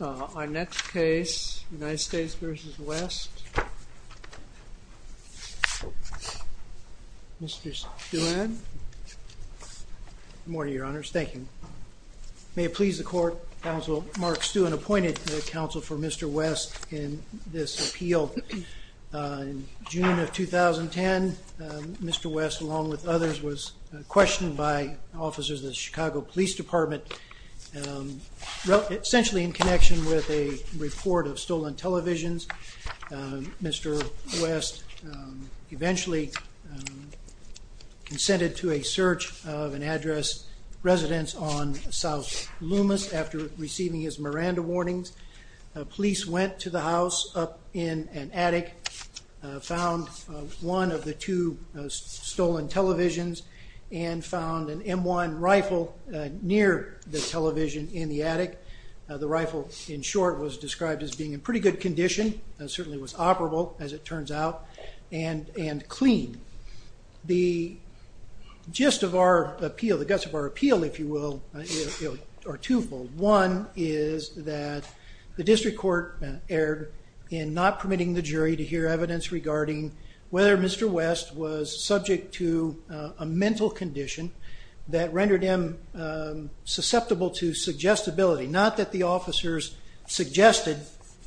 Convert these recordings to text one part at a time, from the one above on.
Our next case, United States v. West, Mr. Stewart. Good morning, your honors. Thank you. May it please the court, counsel Mark Stewart appointed counsel for Mr. West in this appeal. In June of 2010, Mr. West, along with others, was questioned by officers of the Chicago Police Department, essentially in connection with a report of stolen televisions. Mr. West eventually consented to a search of an address residence on South Loomis after receiving his Miranda warnings. Police went to the house up in an attic, found one of the two stolen televisions, and found an M1 rifle near the television in the attic. The rifle, in short, was described as being in pretty good condition, certainly was operable, as it turns out, and clean. The gist of our appeal, the guts of our appeal, if you will, are twofold. One is that the district court erred in not permitting the jury to hear evidence regarding whether Mr. West was subject to a mental condition that rendered him susceptible to suggestibility. Not that the officers suggested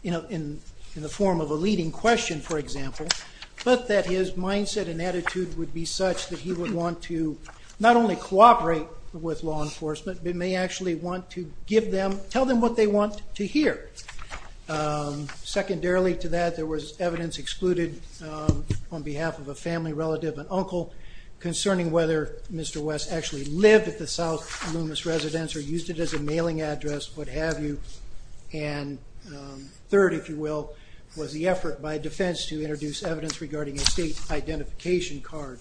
in the form of a leading question, for example, but that his mindset and attitude would be such that he would want to not only cooperate with law enforcement, but may actually want to tell them what they want to hear. Secondarily to that, there was evidence excluded on behalf of a family relative, an uncle, concerning whether Mr. West actually lived at the South Loomis residence or used it as a mailing address, what have you. And third, if you will, was the effort by defense to introduce evidence regarding a state identification card.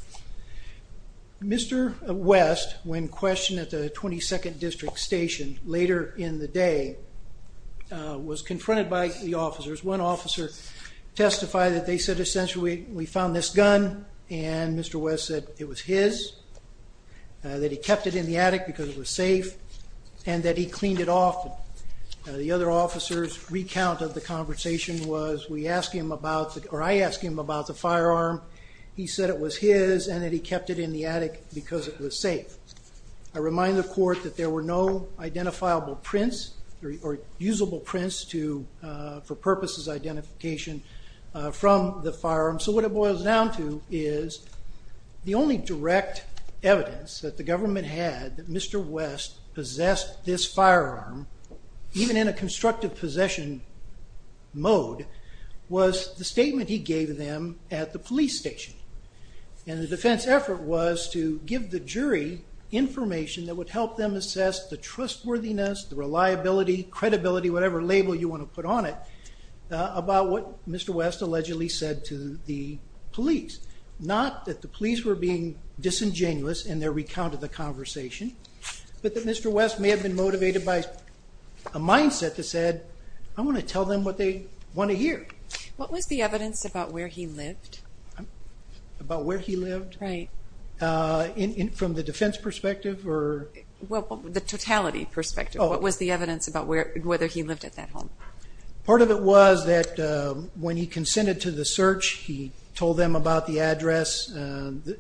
Mr. West, when questioned at the 22nd District Station later in the day, was confronted by the officers. One officer testified that they said, essentially, we found this gun, and Mr. West said it was his, that he kept it in the attic because it was safe, and that he cleaned it off. The other officer's recount of the conversation was, we asked him about, or I asked him about the firearm, he said it was his, and that he kept it in the attic because it was safe. I remind the court that there were no identifiable prints or usable prints for purposes of identification from the firearm. So what it boils down to is, the only direct evidence that the government had that Mr. West possessed this firearm, even in a constructive possession mode, was the statement he gave them at the police station. And the defense effort was to give the jury information that would help them assess the trustworthiness, the reliability, credibility, whatever label you want to put on it, about what Mr. West allegedly said to the police. Not that the police were being disingenuous in their recount of the conversation, but that Mr. West may have been motivated by a mindset that said, I want to tell them what they want to hear. What was the evidence about where he lived? About where he lived? Right. From the defense perspective? Well, the totality perspective. What was the evidence about whether he lived at that home? Part of it was that when he consented to the search, he told them about the address,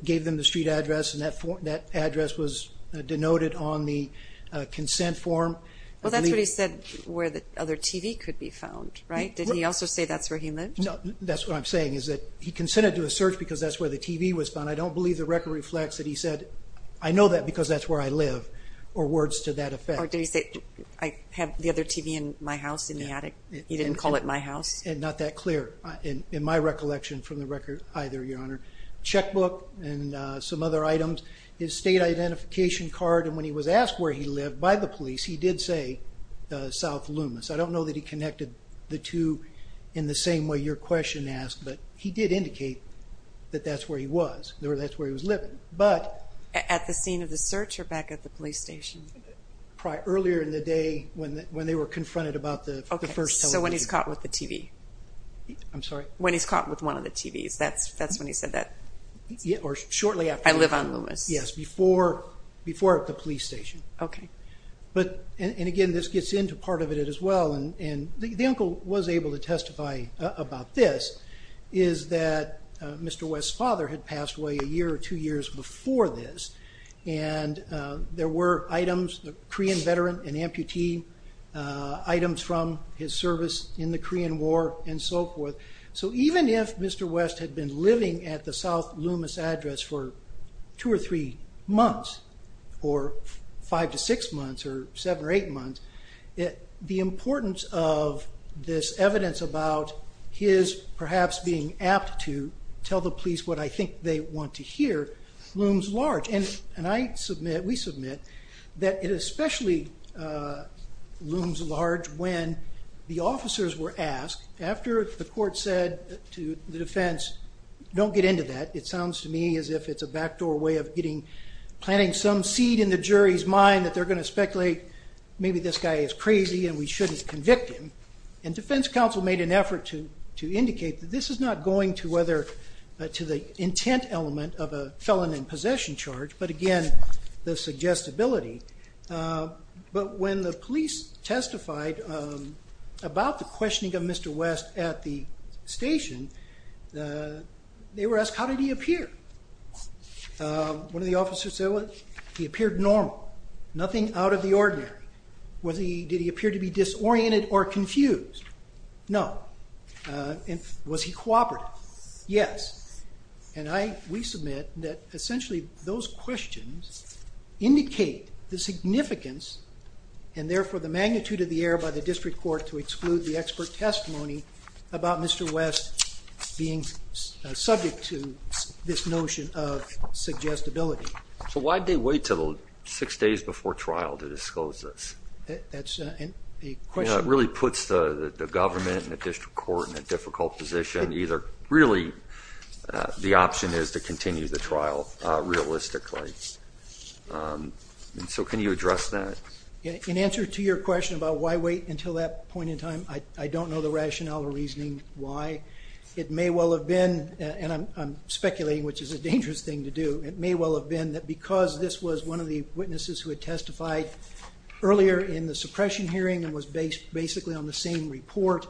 gave them the street address, and that address was denoted on the consent form. Well, that's what he said, where the other TV could be found, right? Did he also say that's where he lived? No, that's what I'm saying, is that he consented to a search because that's where the TV was found. I don't believe the record reflects that he said, I know that because that's where I live, or words to that effect. Or did he say, I have the other TV in my house, in the attic? He didn't call it my house? And not that clear, in my recollection, from the record either, Your Honor. Checkbook and some other items, his state identification card, and when he was asked where he lived by the police, he did say South Loomis. I don't know that he connected the two in the same way your question asked, but he did indicate that that's where he was, or that's where he was living. At the scene of the search, or back at the police station? Earlier in the day, when they were confronted about the first television. So when he's caught with the TV? I'm sorry? When he's caught with one of the TVs, that's when he said that? Or shortly after? I live on Loomis. Yes, before at the police station. Okay. And again, this gets into part of it as well, and the uncle was able to testify about this, is that Mr. West's father had passed away a year or two years before this, and there were items, the Korean veteran, an amputee, items from his service in the Korean War, and so forth. So even if Mr. West had been living at the South Loomis address for two or three months, or five to six months, or seven or eight months, the importance of this evidence about his perhaps being apt to tell the police what I think they want to hear looms large. And I submit, we submit, that it especially looms large when the officers were asked, after the court said to the defense, don't get into that. It sounds to me as if it's a backdoor way of getting, planting some seed in the jury's mind that they're going to speculate, maybe this guy is crazy and we shouldn't convict him. And defense counsel made an effort to indicate that this is not going to whether, to the intent element of a felon in possession charge, but again, the suggestibility. But when the police testified about the questioning of Mr. West at the station, they were asked, how did he appear? One of the officers said, well, he appeared normal, nothing out of the ordinary. Was he, did he appear to be disoriented or confused? No. And was he cooperative? Yes. And I, we submit that essentially those questions indicate the significance and therefore the magnitude of the error by the district court to exclude the expert testimony about Mr. West being subject to this notion of suggestibility. So why'd they wait till six days before trial to disclose this? That's the question. It really puts the government and the district court in a difficult position, either really the option is to continue the trial realistically. And so can you address that? In answer to your question about why wait until that point in time, I don't know the rationale or reasoning why. It may well have been, and I'm speculating, which is a dangerous thing to do. It may well have been that because this was one of the witnesses who had testified earlier in the suppression hearing and was based basically on the same report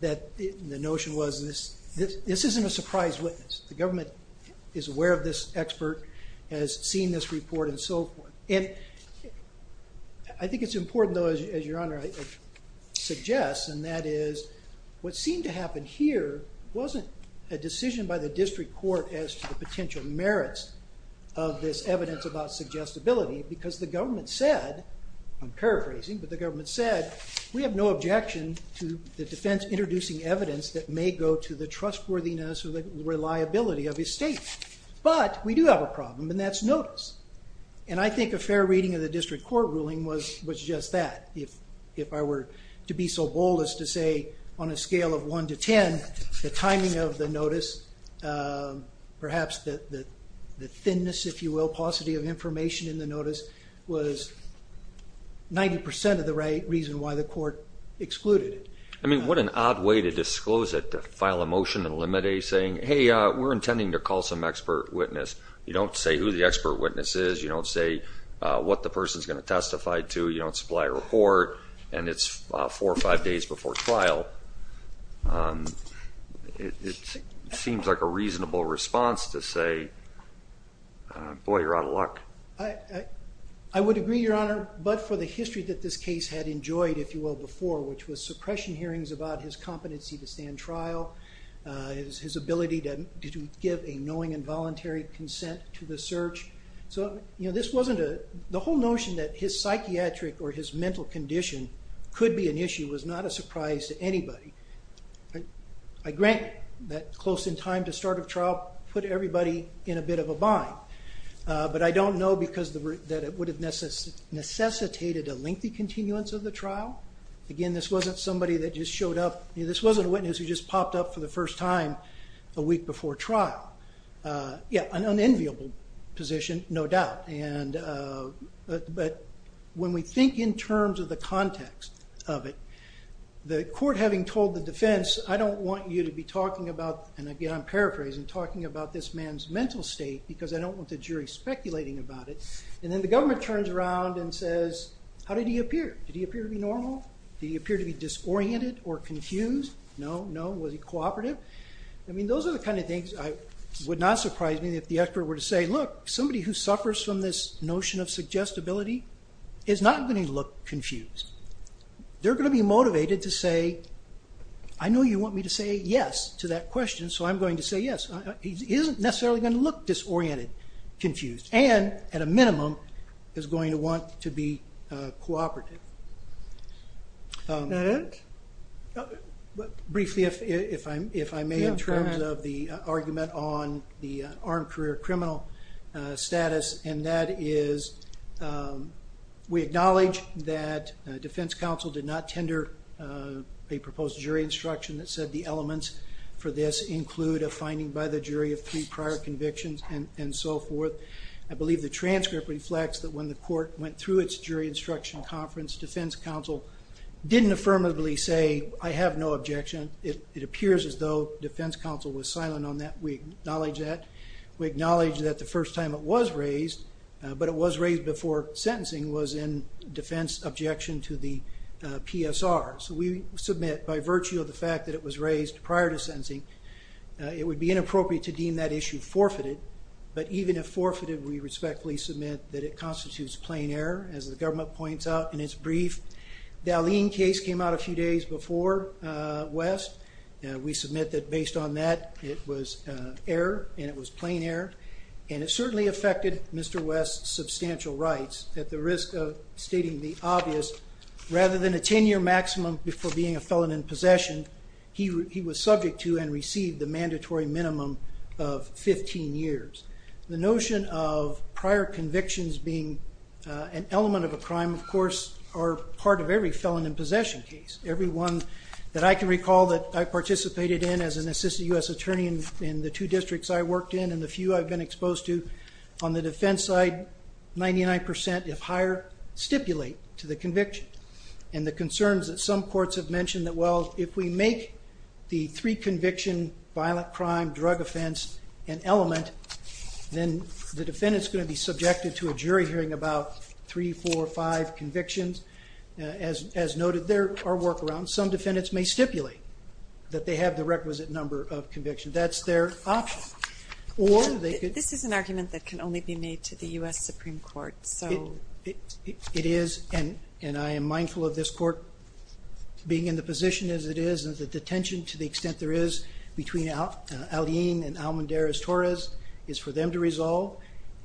that the notion was this, this isn't a surprise witness. The government is aware of this expert, has seen this report and so forth. And I think it's important though, as your honor suggests, and that is what seemed to happen here wasn't a decision by the district court as to the potential merits of this evidence about suggestibility because the government said, I'm paraphrasing, but the government said we have no objection to the defense introducing evidence that may go to the trustworthiness or the reliability of his statement. But we do have a problem and that's notice. And I think a fair reading of the district court ruling was just that. If I were to be so bold as to say on a scale of one to 10, the timing of the notice, perhaps the thinness, if you will, paucity of information in the notice was 90% of the reason why the court excluded it. I mean, what an odd way to disclose it, to file a motion and eliminate saying, hey, we're intending to call some expert witness. You don't say who the expert witness is. You don't say what the person's going to testify to. You don't supply a report and it's four or five days before trial. It seems like a reasonable response to say, boy, you're out of luck. I would agree, Your Honor, but for the history that this case had enjoyed, if you will, before, which was suppression hearings about his competency to stand trial, his ability to give a knowing and voluntary consent to the search. So, you know, this wasn't a, the whole notion that his psychiatric or his mental condition could be an obstacle put everybody in a bit of a bind. But I don't know because that it would have necessitated a lengthy continuance of the trial. Again, this wasn't somebody that just showed up. This wasn't a witness who just popped up for the first time a week before trial. Yeah, an unenviable position, no doubt. But when we think in terms of the context of it, the court having told the defense, I don't want you to be talking about, and again I'm paraphrasing, talking about this man's mental state because I don't want the jury speculating about it. And then the government turns around and says, how did he appear? Did he appear to be normal? Did he appear to be disoriented or confused? No, no. Was he cooperative? I mean, those are the kind of things that would not surprise me if the expert were to say, look, somebody who suffers from this notion of suggestibility is not going to look confused. They're going to be motivated to say, I know you want me to say yes to that question, so I'm going to say yes. He isn't necessarily going to look disoriented, confused, and at a minimum, is going to want to be cooperative. That it? Briefly, if I may, in terms of the argument on the armed career criminal status, and that is we acknowledge that defense counsel did not tender a proposed jury instruction that said the elements for this include a finding by the jury of three prior convictions, and so forth. I believe the transcript reflects that when the court went through its jury instruction conference, defense counsel didn't affirmably say, I have no objection. It appears as though defense counsel was silent on that. We acknowledge that. The first time it was raised, but it was raised before sentencing, was in defense objection to the PSR. So we submit, by virtue of the fact that it was raised prior to sentencing, it would be inappropriate to deem that issue forfeited, but even if forfeited, we respectfully submit that it constitutes plain error, as the government points out in its brief. The Allene case came out a few days before West. We submit that based on that, it was error, and it was plain error, and it certainly affected Mr. West's substantial rights, at the risk of stating the obvious, rather than a 10-year maximum before being a felon in possession, he was subject to and received the mandatory minimum of 15 years. The notion of prior convictions being an element of a crime, of course, are part of every felon in possession case. Every one that I can recall that I participated in as an assistant U.S. attorney in the two districts I worked in, and the few I've been exposed to, on the defense side, 99 percent, if higher, stipulate to the conviction. And the concerns that some courts have mentioned that, well, if we make the three conviction, violent crime, drug offense, an element, then the defendant's going to be subjected to a jury hearing about three, four, five convictions. As noted, there are workarounds. Some defendants may stipulate that they have the requisite number of convictions. That's their option. This is an argument that can only be made to the U.S. Supreme Court. It is, and I am mindful of this court being in the position as it is, and the detention, to the extent there is, between Alleyne and Almendarez-Torres, is for them to resolve.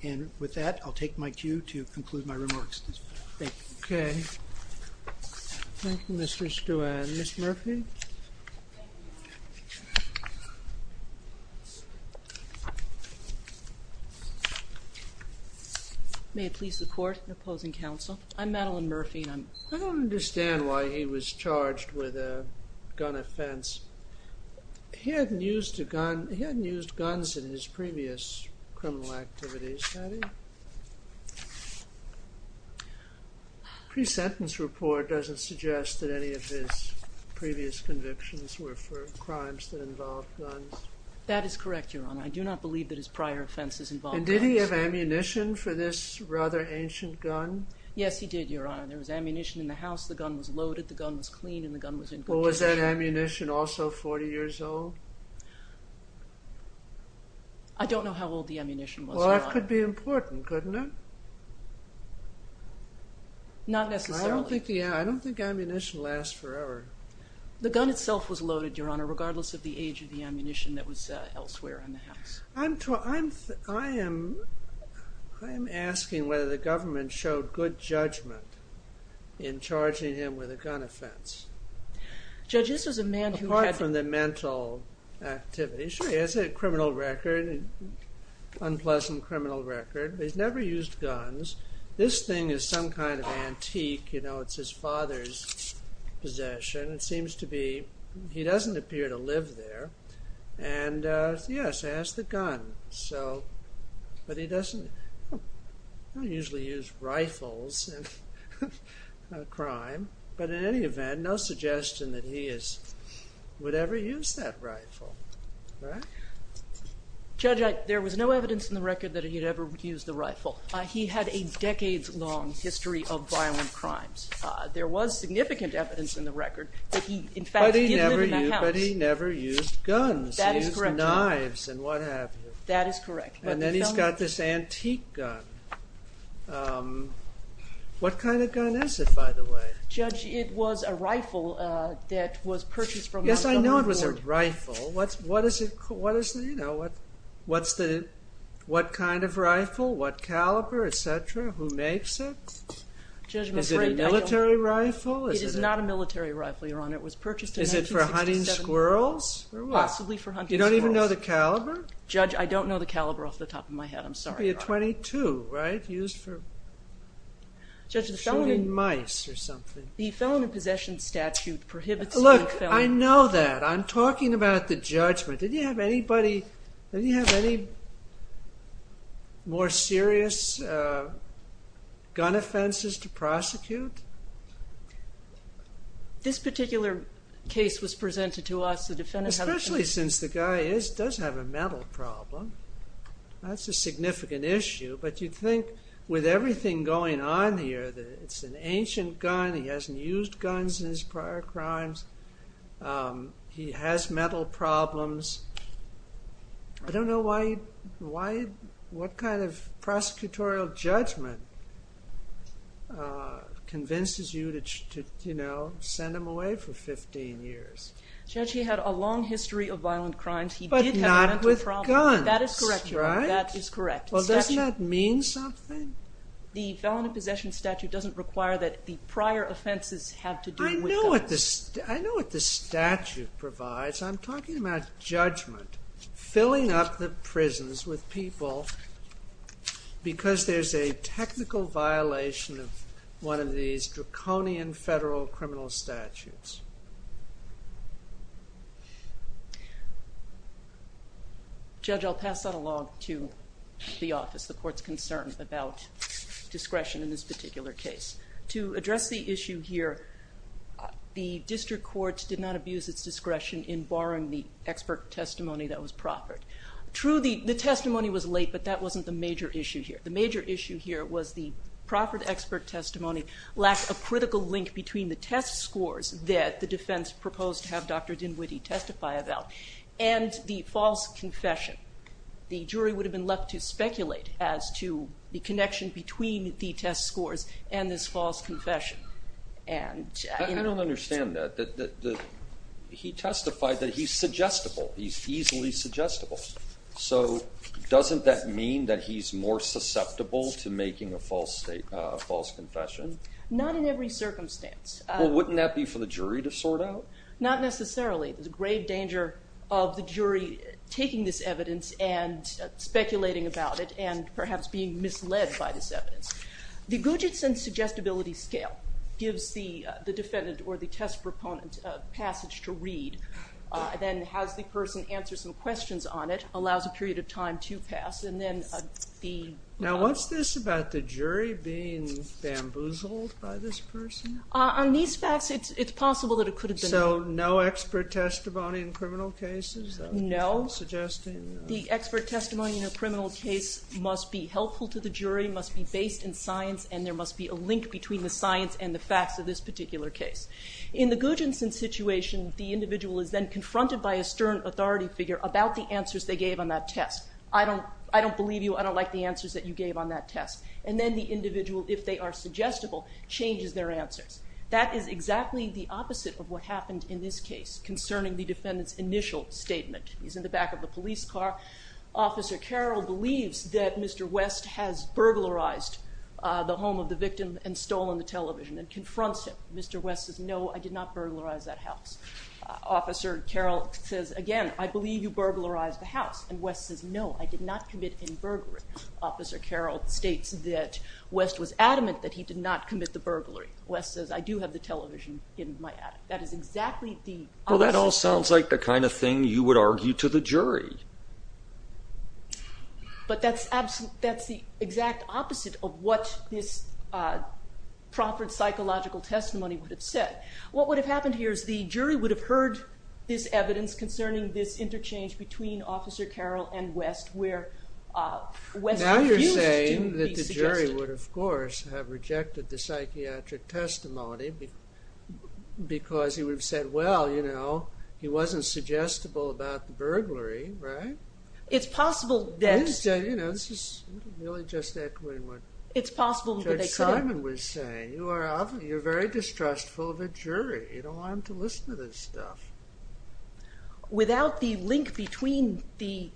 And with that, I'll take my cue to conclude my remarks. Thank you. Okay. Thank you, Mr. Stewart. Ms. Murphy? Thank you. May it please the Court. Opposing counsel. I'm Madeline Murphy. I don't understand why he was charged with a gun offense. He hadn't used a gun, he hadn't used guns in his previous criminal activities, had he? Pre-sentence report doesn't suggest that any of his previous convictions were for crimes that involved guns. That is correct, Your Honor. I do not believe that his prior offenses involved guns. And did he have ammunition for this rather ancient gun? Yes, he did, Your Honor. There was ammunition in the house, the gun was loaded, the gun was clean, and the gun was in good condition. Was that ammunition also 40 years old? Well, it could be important, couldn't it? Not necessarily. I don't think ammunition lasts forever. The gun itself was loaded, Your Honor, regardless of the age of the ammunition that was elsewhere in the house. I'm asking whether the government showed good judgment in charging him with a gun offense. Apart from the mental activity, sure, he has a criminal record, an unpleasant criminal record. He's never used guns. This thing is some kind of antique, you know, it's his father's possession. It seems to be, he doesn't appear to live there. And, yes, he has the gun. But he doesn't usually use rifles in a crime. But in any event, no suggestion that he would ever use that rifle. Judge, there was no evidence in the record that he had ever used the rifle. He had a decades-long history of violent crimes. There was significant evidence in the record that he, in fact, did live in that house. But he never used guns. He used knives and what have you. That is correct. And then he's got this antique gun. What kind of gun is it, by the way? Judge, it was a rifle that was purchased from the government. Yes, I know it was a rifle. What kind of rifle, what caliber, et cetera, who makes it? Is it a military rifle? It is not a military rifle, Your Honor. It was purchased in 1967. Is it for hunting squirrels or what? Possibly for hunting squirrels. You don't even know the caliber? Judge, I don't know the caliber off the top of my head. I'm sorry, Your Honor. It should be a .22, right? Used for shooting mice or something. The Felony Possession Statute prohibits the use of a felony. Look, I know that. I'm talking about the judgment. Did he have any more serious gun offenses to prosecute? This particular case was presented to us. Especially since the guy does have a mental problem. That's a significant issue. But you'd think with everything going on here, it's an ancient gun, he hasn't used guns in his prior crimes, he has mental problems. I don't know why, what kind of prosecutorial judgment convinces you to send him away for 15 years? Judge, he had a long history of violent crimes. He did have a mental problem. But not with guns, right? That is correct, Your Honor. That is correct. Well, doesn't that mean something? The Felony Possession Statute doesn't require that the prior offenses have to do with guns. I know what the statute provides. I'm talking about judgment. Filling up the prisons with people because there's a technical violation of one of these draconian federal criminal statutes. Judge, I'll pass that along to the office, the Court's concern about discretion in this particular case. To address the issue here, the District Court did not abuse its discretion in borrowing the expert testimony that was proffered. True, the testimony was late, but that wasn't the major issue here. The major issue here was the proffered expert testimony lacked a critical link between the test scores that the defense proposed to have Dr. Dinwiddie testify about and the false confession. The jury would have been left to speculate as to the connection between the test scores and this false confession. I don't understand that. He testified that he's suggestible. He's easily suggestible. So doesn't that mean that he's more susceptible to making a false confession? Not in every circumstance. Wouldn't that be for the jury to sort out? Not necessarily. There's a grave danger of the jury taking this evidence and speculating about it and perhaps being misled by this evidence. The Gugitsen Suggestibility Scale gives the defendant or the test proponent a passage to read, then has the person answer some questions on it, allows a period of time to pass, and then the... Now what's this about the jury being bamboozled by this person? On these facts, it's possible that it could have been... So no expert testimony in criminal cases? No. Suggesting... The expert testimony in a criminal case must be helpful to the jury, must be based in science, and there must be a link between the science and the facts of this particular case. In the Gugitsen situation, the individual is then confronted by a stern authority figure about the answers they gave on that test. I don't believe you. I don't like the answers that you gave on that test. And then the individual, if they are suggestible, changes their answers. That is exactly the opposite of what happened in this case concerning the defendant's initial statement. He's in the back of the police car. Officer Carroll believes that Mr West has burglarized the home of the victim and stolen the television and confronts him. Mr West says, No, I did not burglarize that house. Officer Carroll says, Again, I believe you burglarized the house. And West says, No, I did not commit any burglary. Officer Carroll states that West was adamant that he did not commit the burglary. West says, I do have the television in my attic. That is exactly the opposite... Well, that all sounds like the kind of thing you would argue to the jury. But that's the exact opposite of what this proffered psychological testimony would have said. What would have happened here is the jury would have heard this evidence concerning this interchange between Officer Carroll and West where West refused to be suggested. Now you're saying that the jury would, of course, have rejected the psychiatric testimony because he would have said, Well, you know, he wasn't suggestible about the burglary, right? It's possible that... You know, this is really just echoing what Judge Simon was saying. You're very distrustful of a jury. You don't want them to listen to this stuff. Without the link between the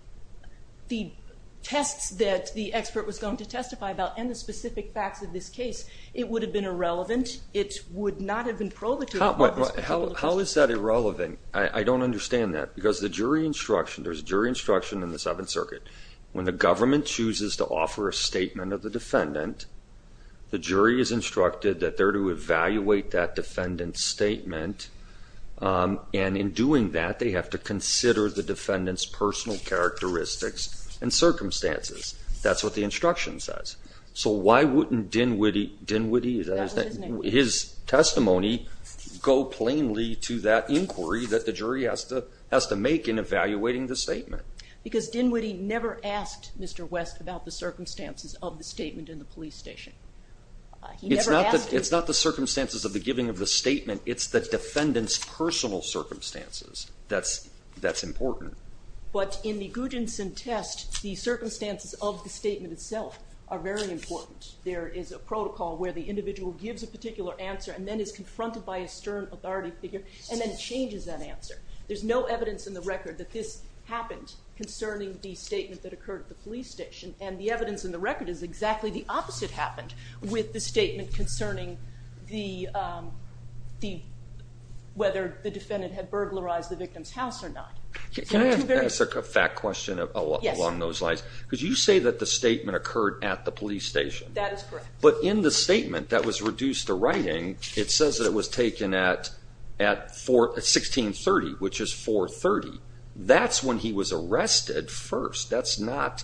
tests that the expert was going to testify about and the specific facts of this case, it would have been irrelevant. It would not have been proletarian. How is that irrelevant? I don't understand that. Because the jury instruction, there's jury instruction in the Seventh Circuit. When the government chooses to offer a statement of the defendant, the jury is instructed that they're to evaluate that defendant's statement. And in doing that, they have to consider the defendant's personal characteristics and circumstances. That's what the instruction says. So why wouldn't Dinwiddie, Dinwiddie, his testimony, go plainly to that inquiry that the jury has to make in evaluating the statement? Because Dinwiddie never asked Mr. West about the circumstances of the statement in the police station. It's not the circumstances of the giving of the statement. It's the defendant's personal circumstances that's important. But in the Gudjonson test, the circumstances of the statement itself are very important. There is a protocol where the individual gives a particular answer and then is confronted by a stern authority figure and then changes that answer. There's no evidence in the record that this happened concerning the statement that occurred at the police station. And the evidence in the record is exactly the opposite happened with the statement concerning whether the defendant had burglarized the victim's house or not. Can I ask a fact question along those lines? Because you say that the statement occurred at the police station. That is correct. But in the statement that was reduced to writing, it says that it was taken at 1630, which is 430. That's when he was arrested first. That's not...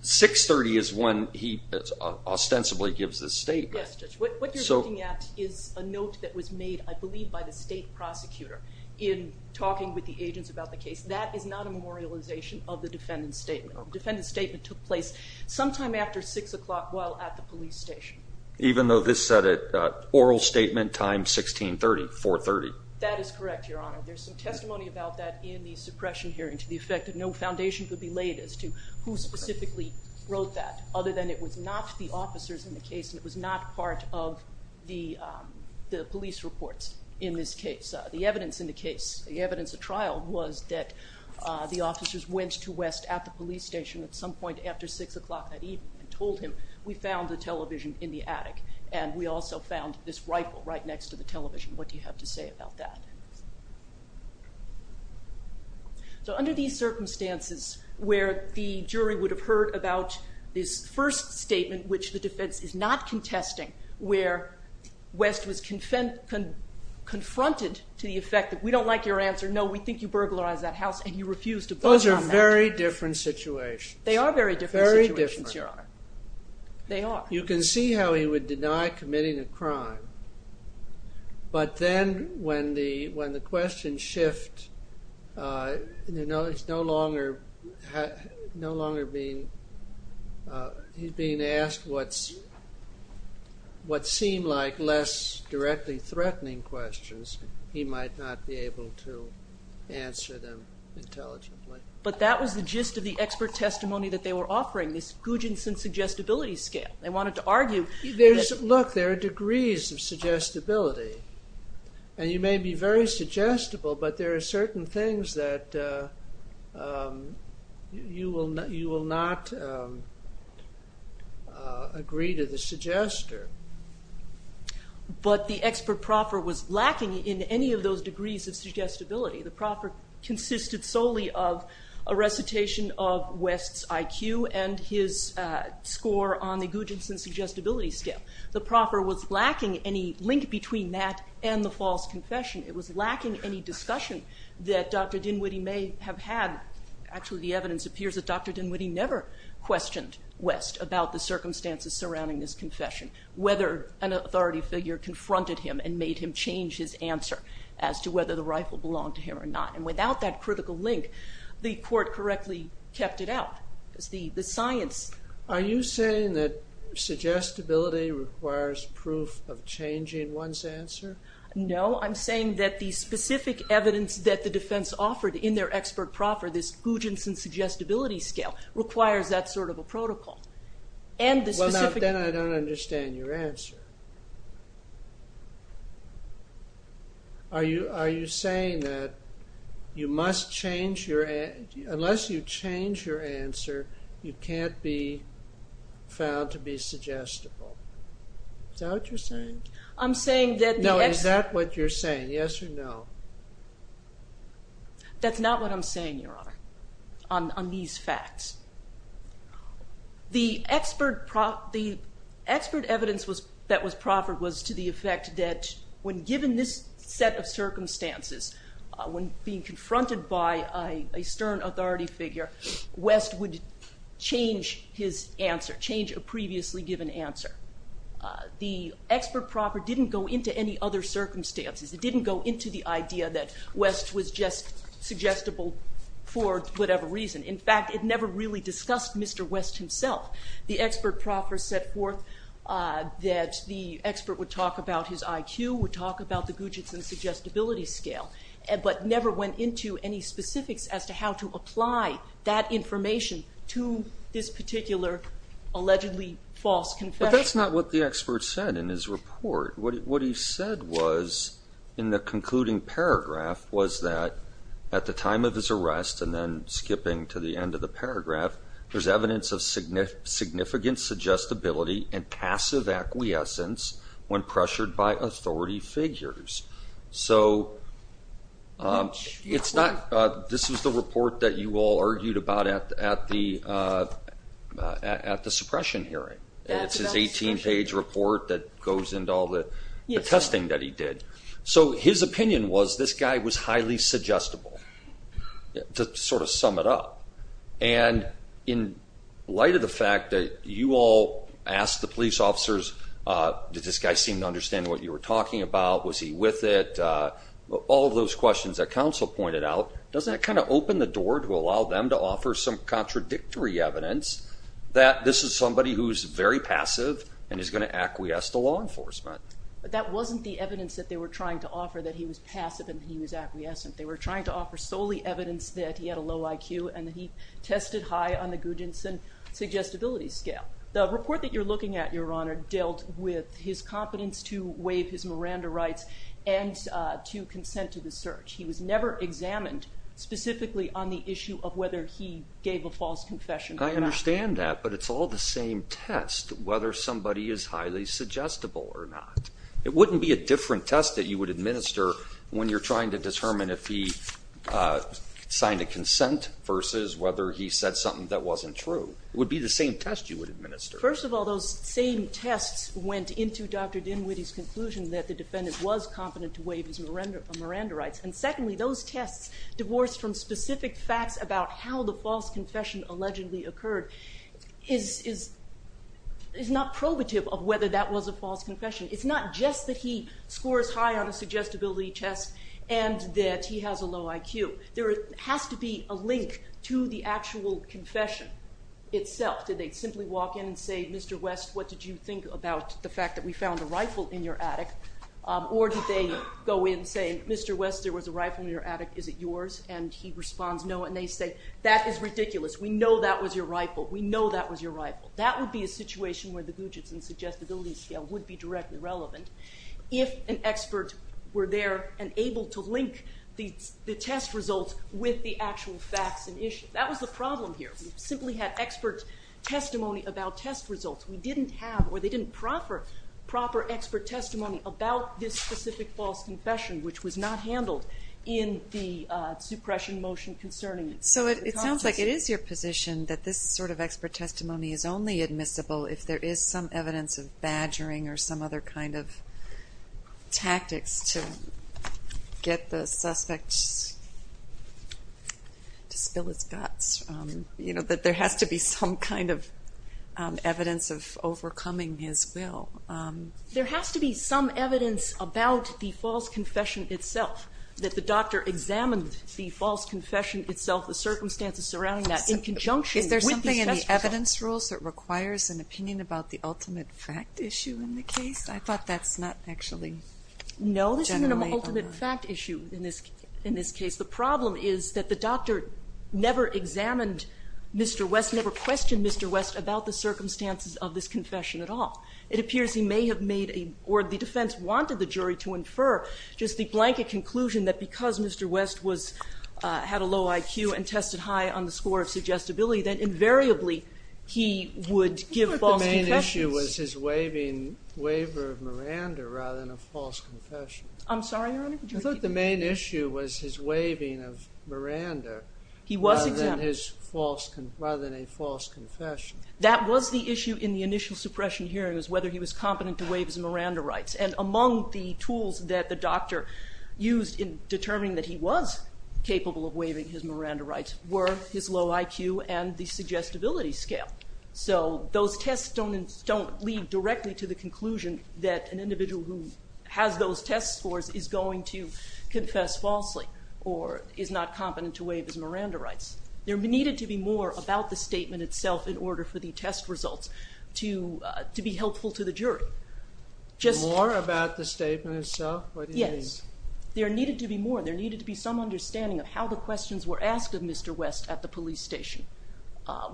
630 is when he ostensibly gives the statement. Yes, Judge. What you're looking at is a note that was made, I believe, by the state prosecutor in talking with the agents about the case. That is not a memorialization of the defendant's statement. The defendant's statement took place sometime after 6 o'clock while at the police station. Even though this said it, oral statement time 1630, 430. That is correct, Your Honor. There's some testimony about that in the suppression hearing to the effect that no foundation could be laid as to who specifically wrote that other than it was not the officers in the case and it was not part of the police reports in this case. The evidence in the case, the evidence at trial, was that the officers went to West at the police station at some point after 6 o'clock that evening and told him, we found the television in the attic and we also found this rifle right next to the television. What do you have to say about that? So under these circumstances where the jury would have heard about this first statement which the defense is not contesting where West was confronted to the effect that we don't like your answer, no, we think you burglarized that house and you refused to put it on that jury. Those are very different situations. They are very different situations, Your Honor. They are. You can see how he would deny committing a crime but then when the questions shift and he's no longer being he's being asked what seemed like less directly threatening questions he might not be able to answer them intelligently. But that was the gist of the expert testimony that they were offering, this Guginson suggestibility scale. They wanted to argue Look, there are degrees of suggestibility and you may be very suggestible but there are certain things that you will not agree to the suggester. But the expert proffer was lacking in any of those degrees of suggestibility. The proffer consisted solely of a recitation of West's IQ and his score on the Guginson suggestibility scale. The proffer was lacking any link between that and the false confession. It was lacking any discussion that Dr. Dinwiddie may have had. Actually the evidence appears that Dr. Dinwiddie never questioned West about the circumstances surrounding this confession. Whether an authority figure confronted him and made him change his answer as to whether the rifle belonged to him or not. And without that critical link the court correctly kept it out because the science... Are you saying that suggestibility requires proof of changing one's answer? No, I'm saying that the specific evidence that the defense offered in their expert proffer, this Guginson suggestibility scale, requires that sort of a protocol. And the specific... Well, now then I don't understand your answer. Are you saying that you must change your... You can't be found to be suggestible. Is that what you're saying? I'm saying that... No, is that what you're saying, yes or no? That's not what I'm saying, Your Honor, on these facts. The expert evidence that was proffered was to the effect that when given this set of circumstances, when being confronted by a stern authority figure, West would change his answer, change a previously given answer. The expert proffer didn't go into any other circumstances. It didn't go into the idea that West was just suggestible for whatever reason. In fact, it never really discussed Mr. West himself. The expert proffer set forth that the expert would talk about his IQ, would talk about the Guginson suggestibility scale, but never went into any specifics as to how to apply that information to this particular allegedly false confession. But that's not what the expert said in his report. What he said was, in the concluding paragraph, was that at the time of his arrest and then skipping to the end of the paragraph, there's evidence of significant suggestibility and passive acquiescence when pressured by authority figures. So it's not... This was the report that you all argued about at the suppression hearing. It's his 18-page report that goes into all the testing that he did. So his opinion was this guy was highly suggestible, to sort of sum it up. And in light of the fact that you all asked the police officers, did this guy seem to understand what you were talking about, was he with it, all of those questions that counsel pointed out, doesn't that kind of open the door to allow them to offer some contradictory evidence that this is somebody who's very passive and is going to acquiesce to law enforcement? But that wasn't the evidence that they were trying to offer, that he was passive and he was acquiescent. They were trying to offer solely evidence that he had a low IQ and that he tested high on the Guginson suggestibility scale. The report that you're looking at, Your Honor, dealt with his competence to waive his Miranda rights and to consent to the search. He was never examined specifically on the issue of whether he gave a false confession or not. I understand that, but it's all the same test, whether somebody is highly suggestible or not. It wouldn't be a different test that you would administer when you're trying to determine if he signed a consent versus whether he said something that wasn't true. It would be the same test you would administer. First of all, those same tests went into Dr. Dinwiddie's conclusion that the defendant was competent to waive his Miranda rights. And secondly, those tests, divorced from specific facts about how the false confession allegedly occurred, is not probative of whether that was a false confession. It's not just that he scores high on a suggestibility test and that he has a low IQ. There has to be a link to the actual confession itself. Did they simply walk in and say, Mr. West, what did you think about the fact that we found a rifle in your attic? Or did they go in and say, Mr. West, there was a rifle in your attic, is it yours? And he responds no, and they say, that is ridiculous, we know that was your rifle, we know that was your rifle. That would be a situation where the Guginson suggestibility scale would be directly relevant if an expert were there and able to link the test results with the actual facts and issues. That was the problem here. We simply had expert testimony about test results. We didn't have, or they didn't offer proper expert testimony about this specific false confession, which was not handled in the suppression motion concerning it. So it sounds like it is your position that this sort of expert testimony is only admissible if there is some evidence of badgering or some other kind of tactics to get the suspect to spill his guts. That there has to be some kind of evidence of overcoming his will. There has to be some evidence about the false confession itself, that the doctor examined the false confession itself, the circumstances surrounding that, in conjunction with the test results. Is there something in the evidence rules that requires an opinion about the ultimate fact issue in the case? I thought that's not actually generally... No, this isn't an ultimate fact issue in this case. The problem is that the doctor never examined Mr. West, never questioned Mr. West about the circumstances of this confession at all. It appears he may have made, or the defense wanted the jury to infer just the blanket conclusion that because Mr. West had a low IQ and tested high on the score of suggestibility, that invariably he would give false confessions. I thought the main issue was his waiver of Miranda rather than a false confession. I'm sorry, Your Honor? I thought the main issue was his waiving of Miranda... He was examined. ...rather than a false confession. That was the issue in the initial suppression hearing, was whether he was competent to waive his Miranda rights. And among the tools that the doctor used in determining that he was capable of waiving his Miranda rights were his low IQ and the suggestibility scale. So those tests don't lead directly to the conclusion that an individual who has those test scores is going to confess falsely or is not competent to waive his Miranda rights. There needed to be more about the statement itself in order for the test results to be helpful to the jury. More about the statement itself? Yes. What do you mean? There needed to be more. There needed to be some understanding of how the questions were asked of Mr. West at the police station,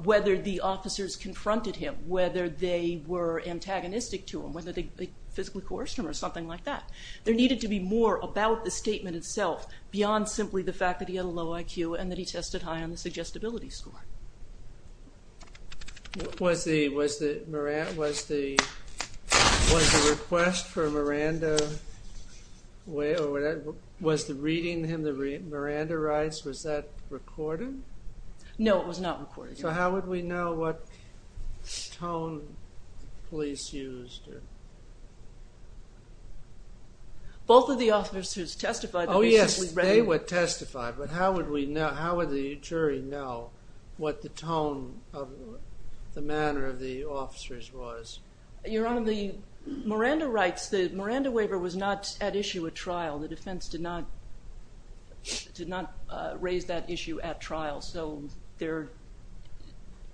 whether the officers confronted him, whether they were antagonistic to him, whether they physically coerced him or something like that. There needed to be more about the statement itself beyond simply the fact that he had a low IQ and that he tested high on the suggestibility score. Was the request for Miranda... Was the reading him the Miranda rights, was that recorded? No, it was not recorded. So how would we know what tone the police used? Both of the officers testified... Oh, yes, they would testify, but how would the jury know what the tone of the manner of the officers was? Your Honor, the Miranda rights, the Miranda waiver was not at issue at trial. The defense did not raise that issue at trial, so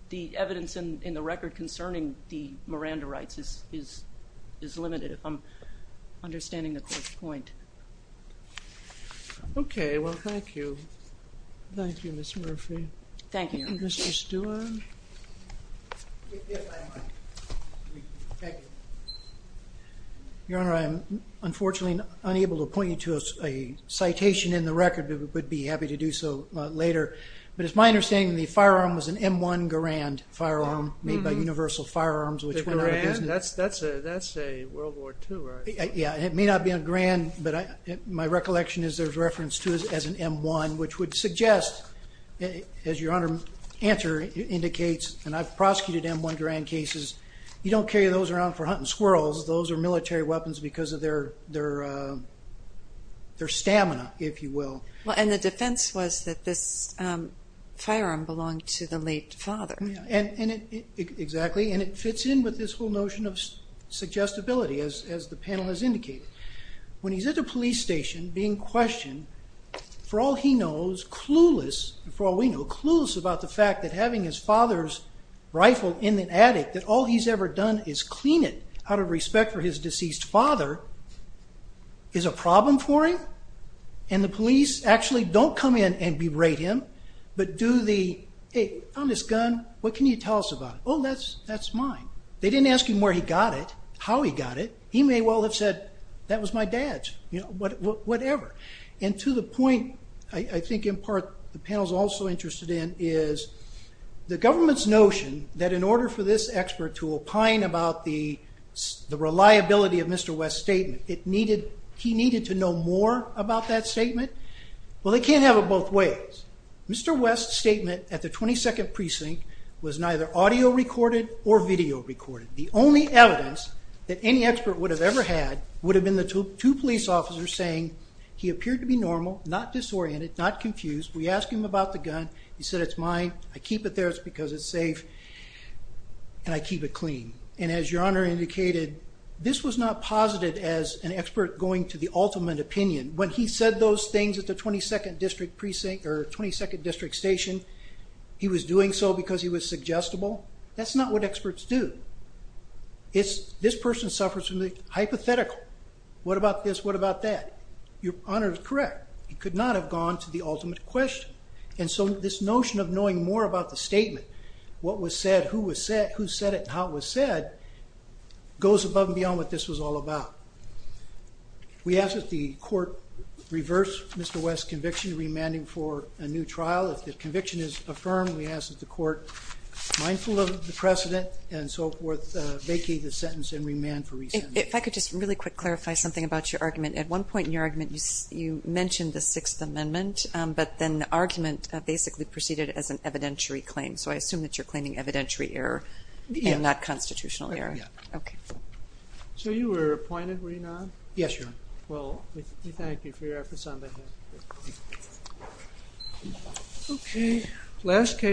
the evidence in the record concerning the Miranda rights is limited. If I'm understanding the court's point. Okay, well, thank you. Thank you, Ms. Murphy. Thank you, Your Honor. Mr. Stewart? If I might. Thank you. Your Honor, I am unfortunately unable to point you to a citation in the record, but would be happy to do so later. But it's my understanding the firearm was an M1 Garand firearm made by Universal Firearms, which went out of business. That's a World War II, right? Yeah, it may not be a Garand, but my recollection is there's reference to it as an M1, which would suggest, as Your Honor's answer indicates, and I've prosecuted M1 Garand cases, you don't carry those around for hunting squirrels. Those are military weapons because of their stamina, if you will. And the defense was that this firearm belonged to the late father. Exactly, and it fits in with this whole notion of suggestibility, as the panel has indicated. When he's at the police station being questioned, for all he knows, clueless, for all we know, clueless about the fact that having his father's rifle in the attic, that all he's ever done is clean it out of respect for his deceased father, is a problem for him? And the police actually don't come in and berate him, but do the, hey, on this gun, what can you tell us about it? Oh, that's mine. They didn't ask him where he got it, how he got it. He may well have said, that was my dad's, whatever. And to the point I think in part the panel's also interested in is the government's notion that in order for this expert to opine about the reliability of Mr. West's statement, he needed to know more about that statement. Well, they can't have it both ways. Mr. West's statement at the 22nd Precinct was neither audio recorded or video recorded. The only evidence that any expert would have ever had would have been the two police officers saying, he appeared to be normal, not disoriented, not confused. We asked him about the gun. He said, it's mine, I keep it there, it's because it's safe, and I keep it clean. And as Your Honor indicated, this was not posited as an expert going to the ultimate opinion. When he said those things at the 22nd District Station, he was doing so because he was suggestible. That's not what experts do. This person suffers from the hypothetical. What about this? What about that? Your Honor is correct. He could not have gone to the ultimate question. And so this notion of knowing more about the statement, what was said, who said it, and how it was said, goes above and beyond what this was all about. We ask that the Court reverse Mr. West's conviction, remanding for a new trial. If the conviction is affirmed, we ask that the Court, mindful of the precedent and so forth, vacate the sentence and remand for re-sentencing. If I could just really quick clarify something about your argument. At one point in your argument, you mentioned the Sixth Amendment, but then the argument basically proceeded as an evidentiary claim. So I assume that you're claiming evidentiary error and not constitutional error. Yeah. Okay. So you were appointed, were you not? Yes, Your Honor. Well, we thank you for your efforts on that. Okay.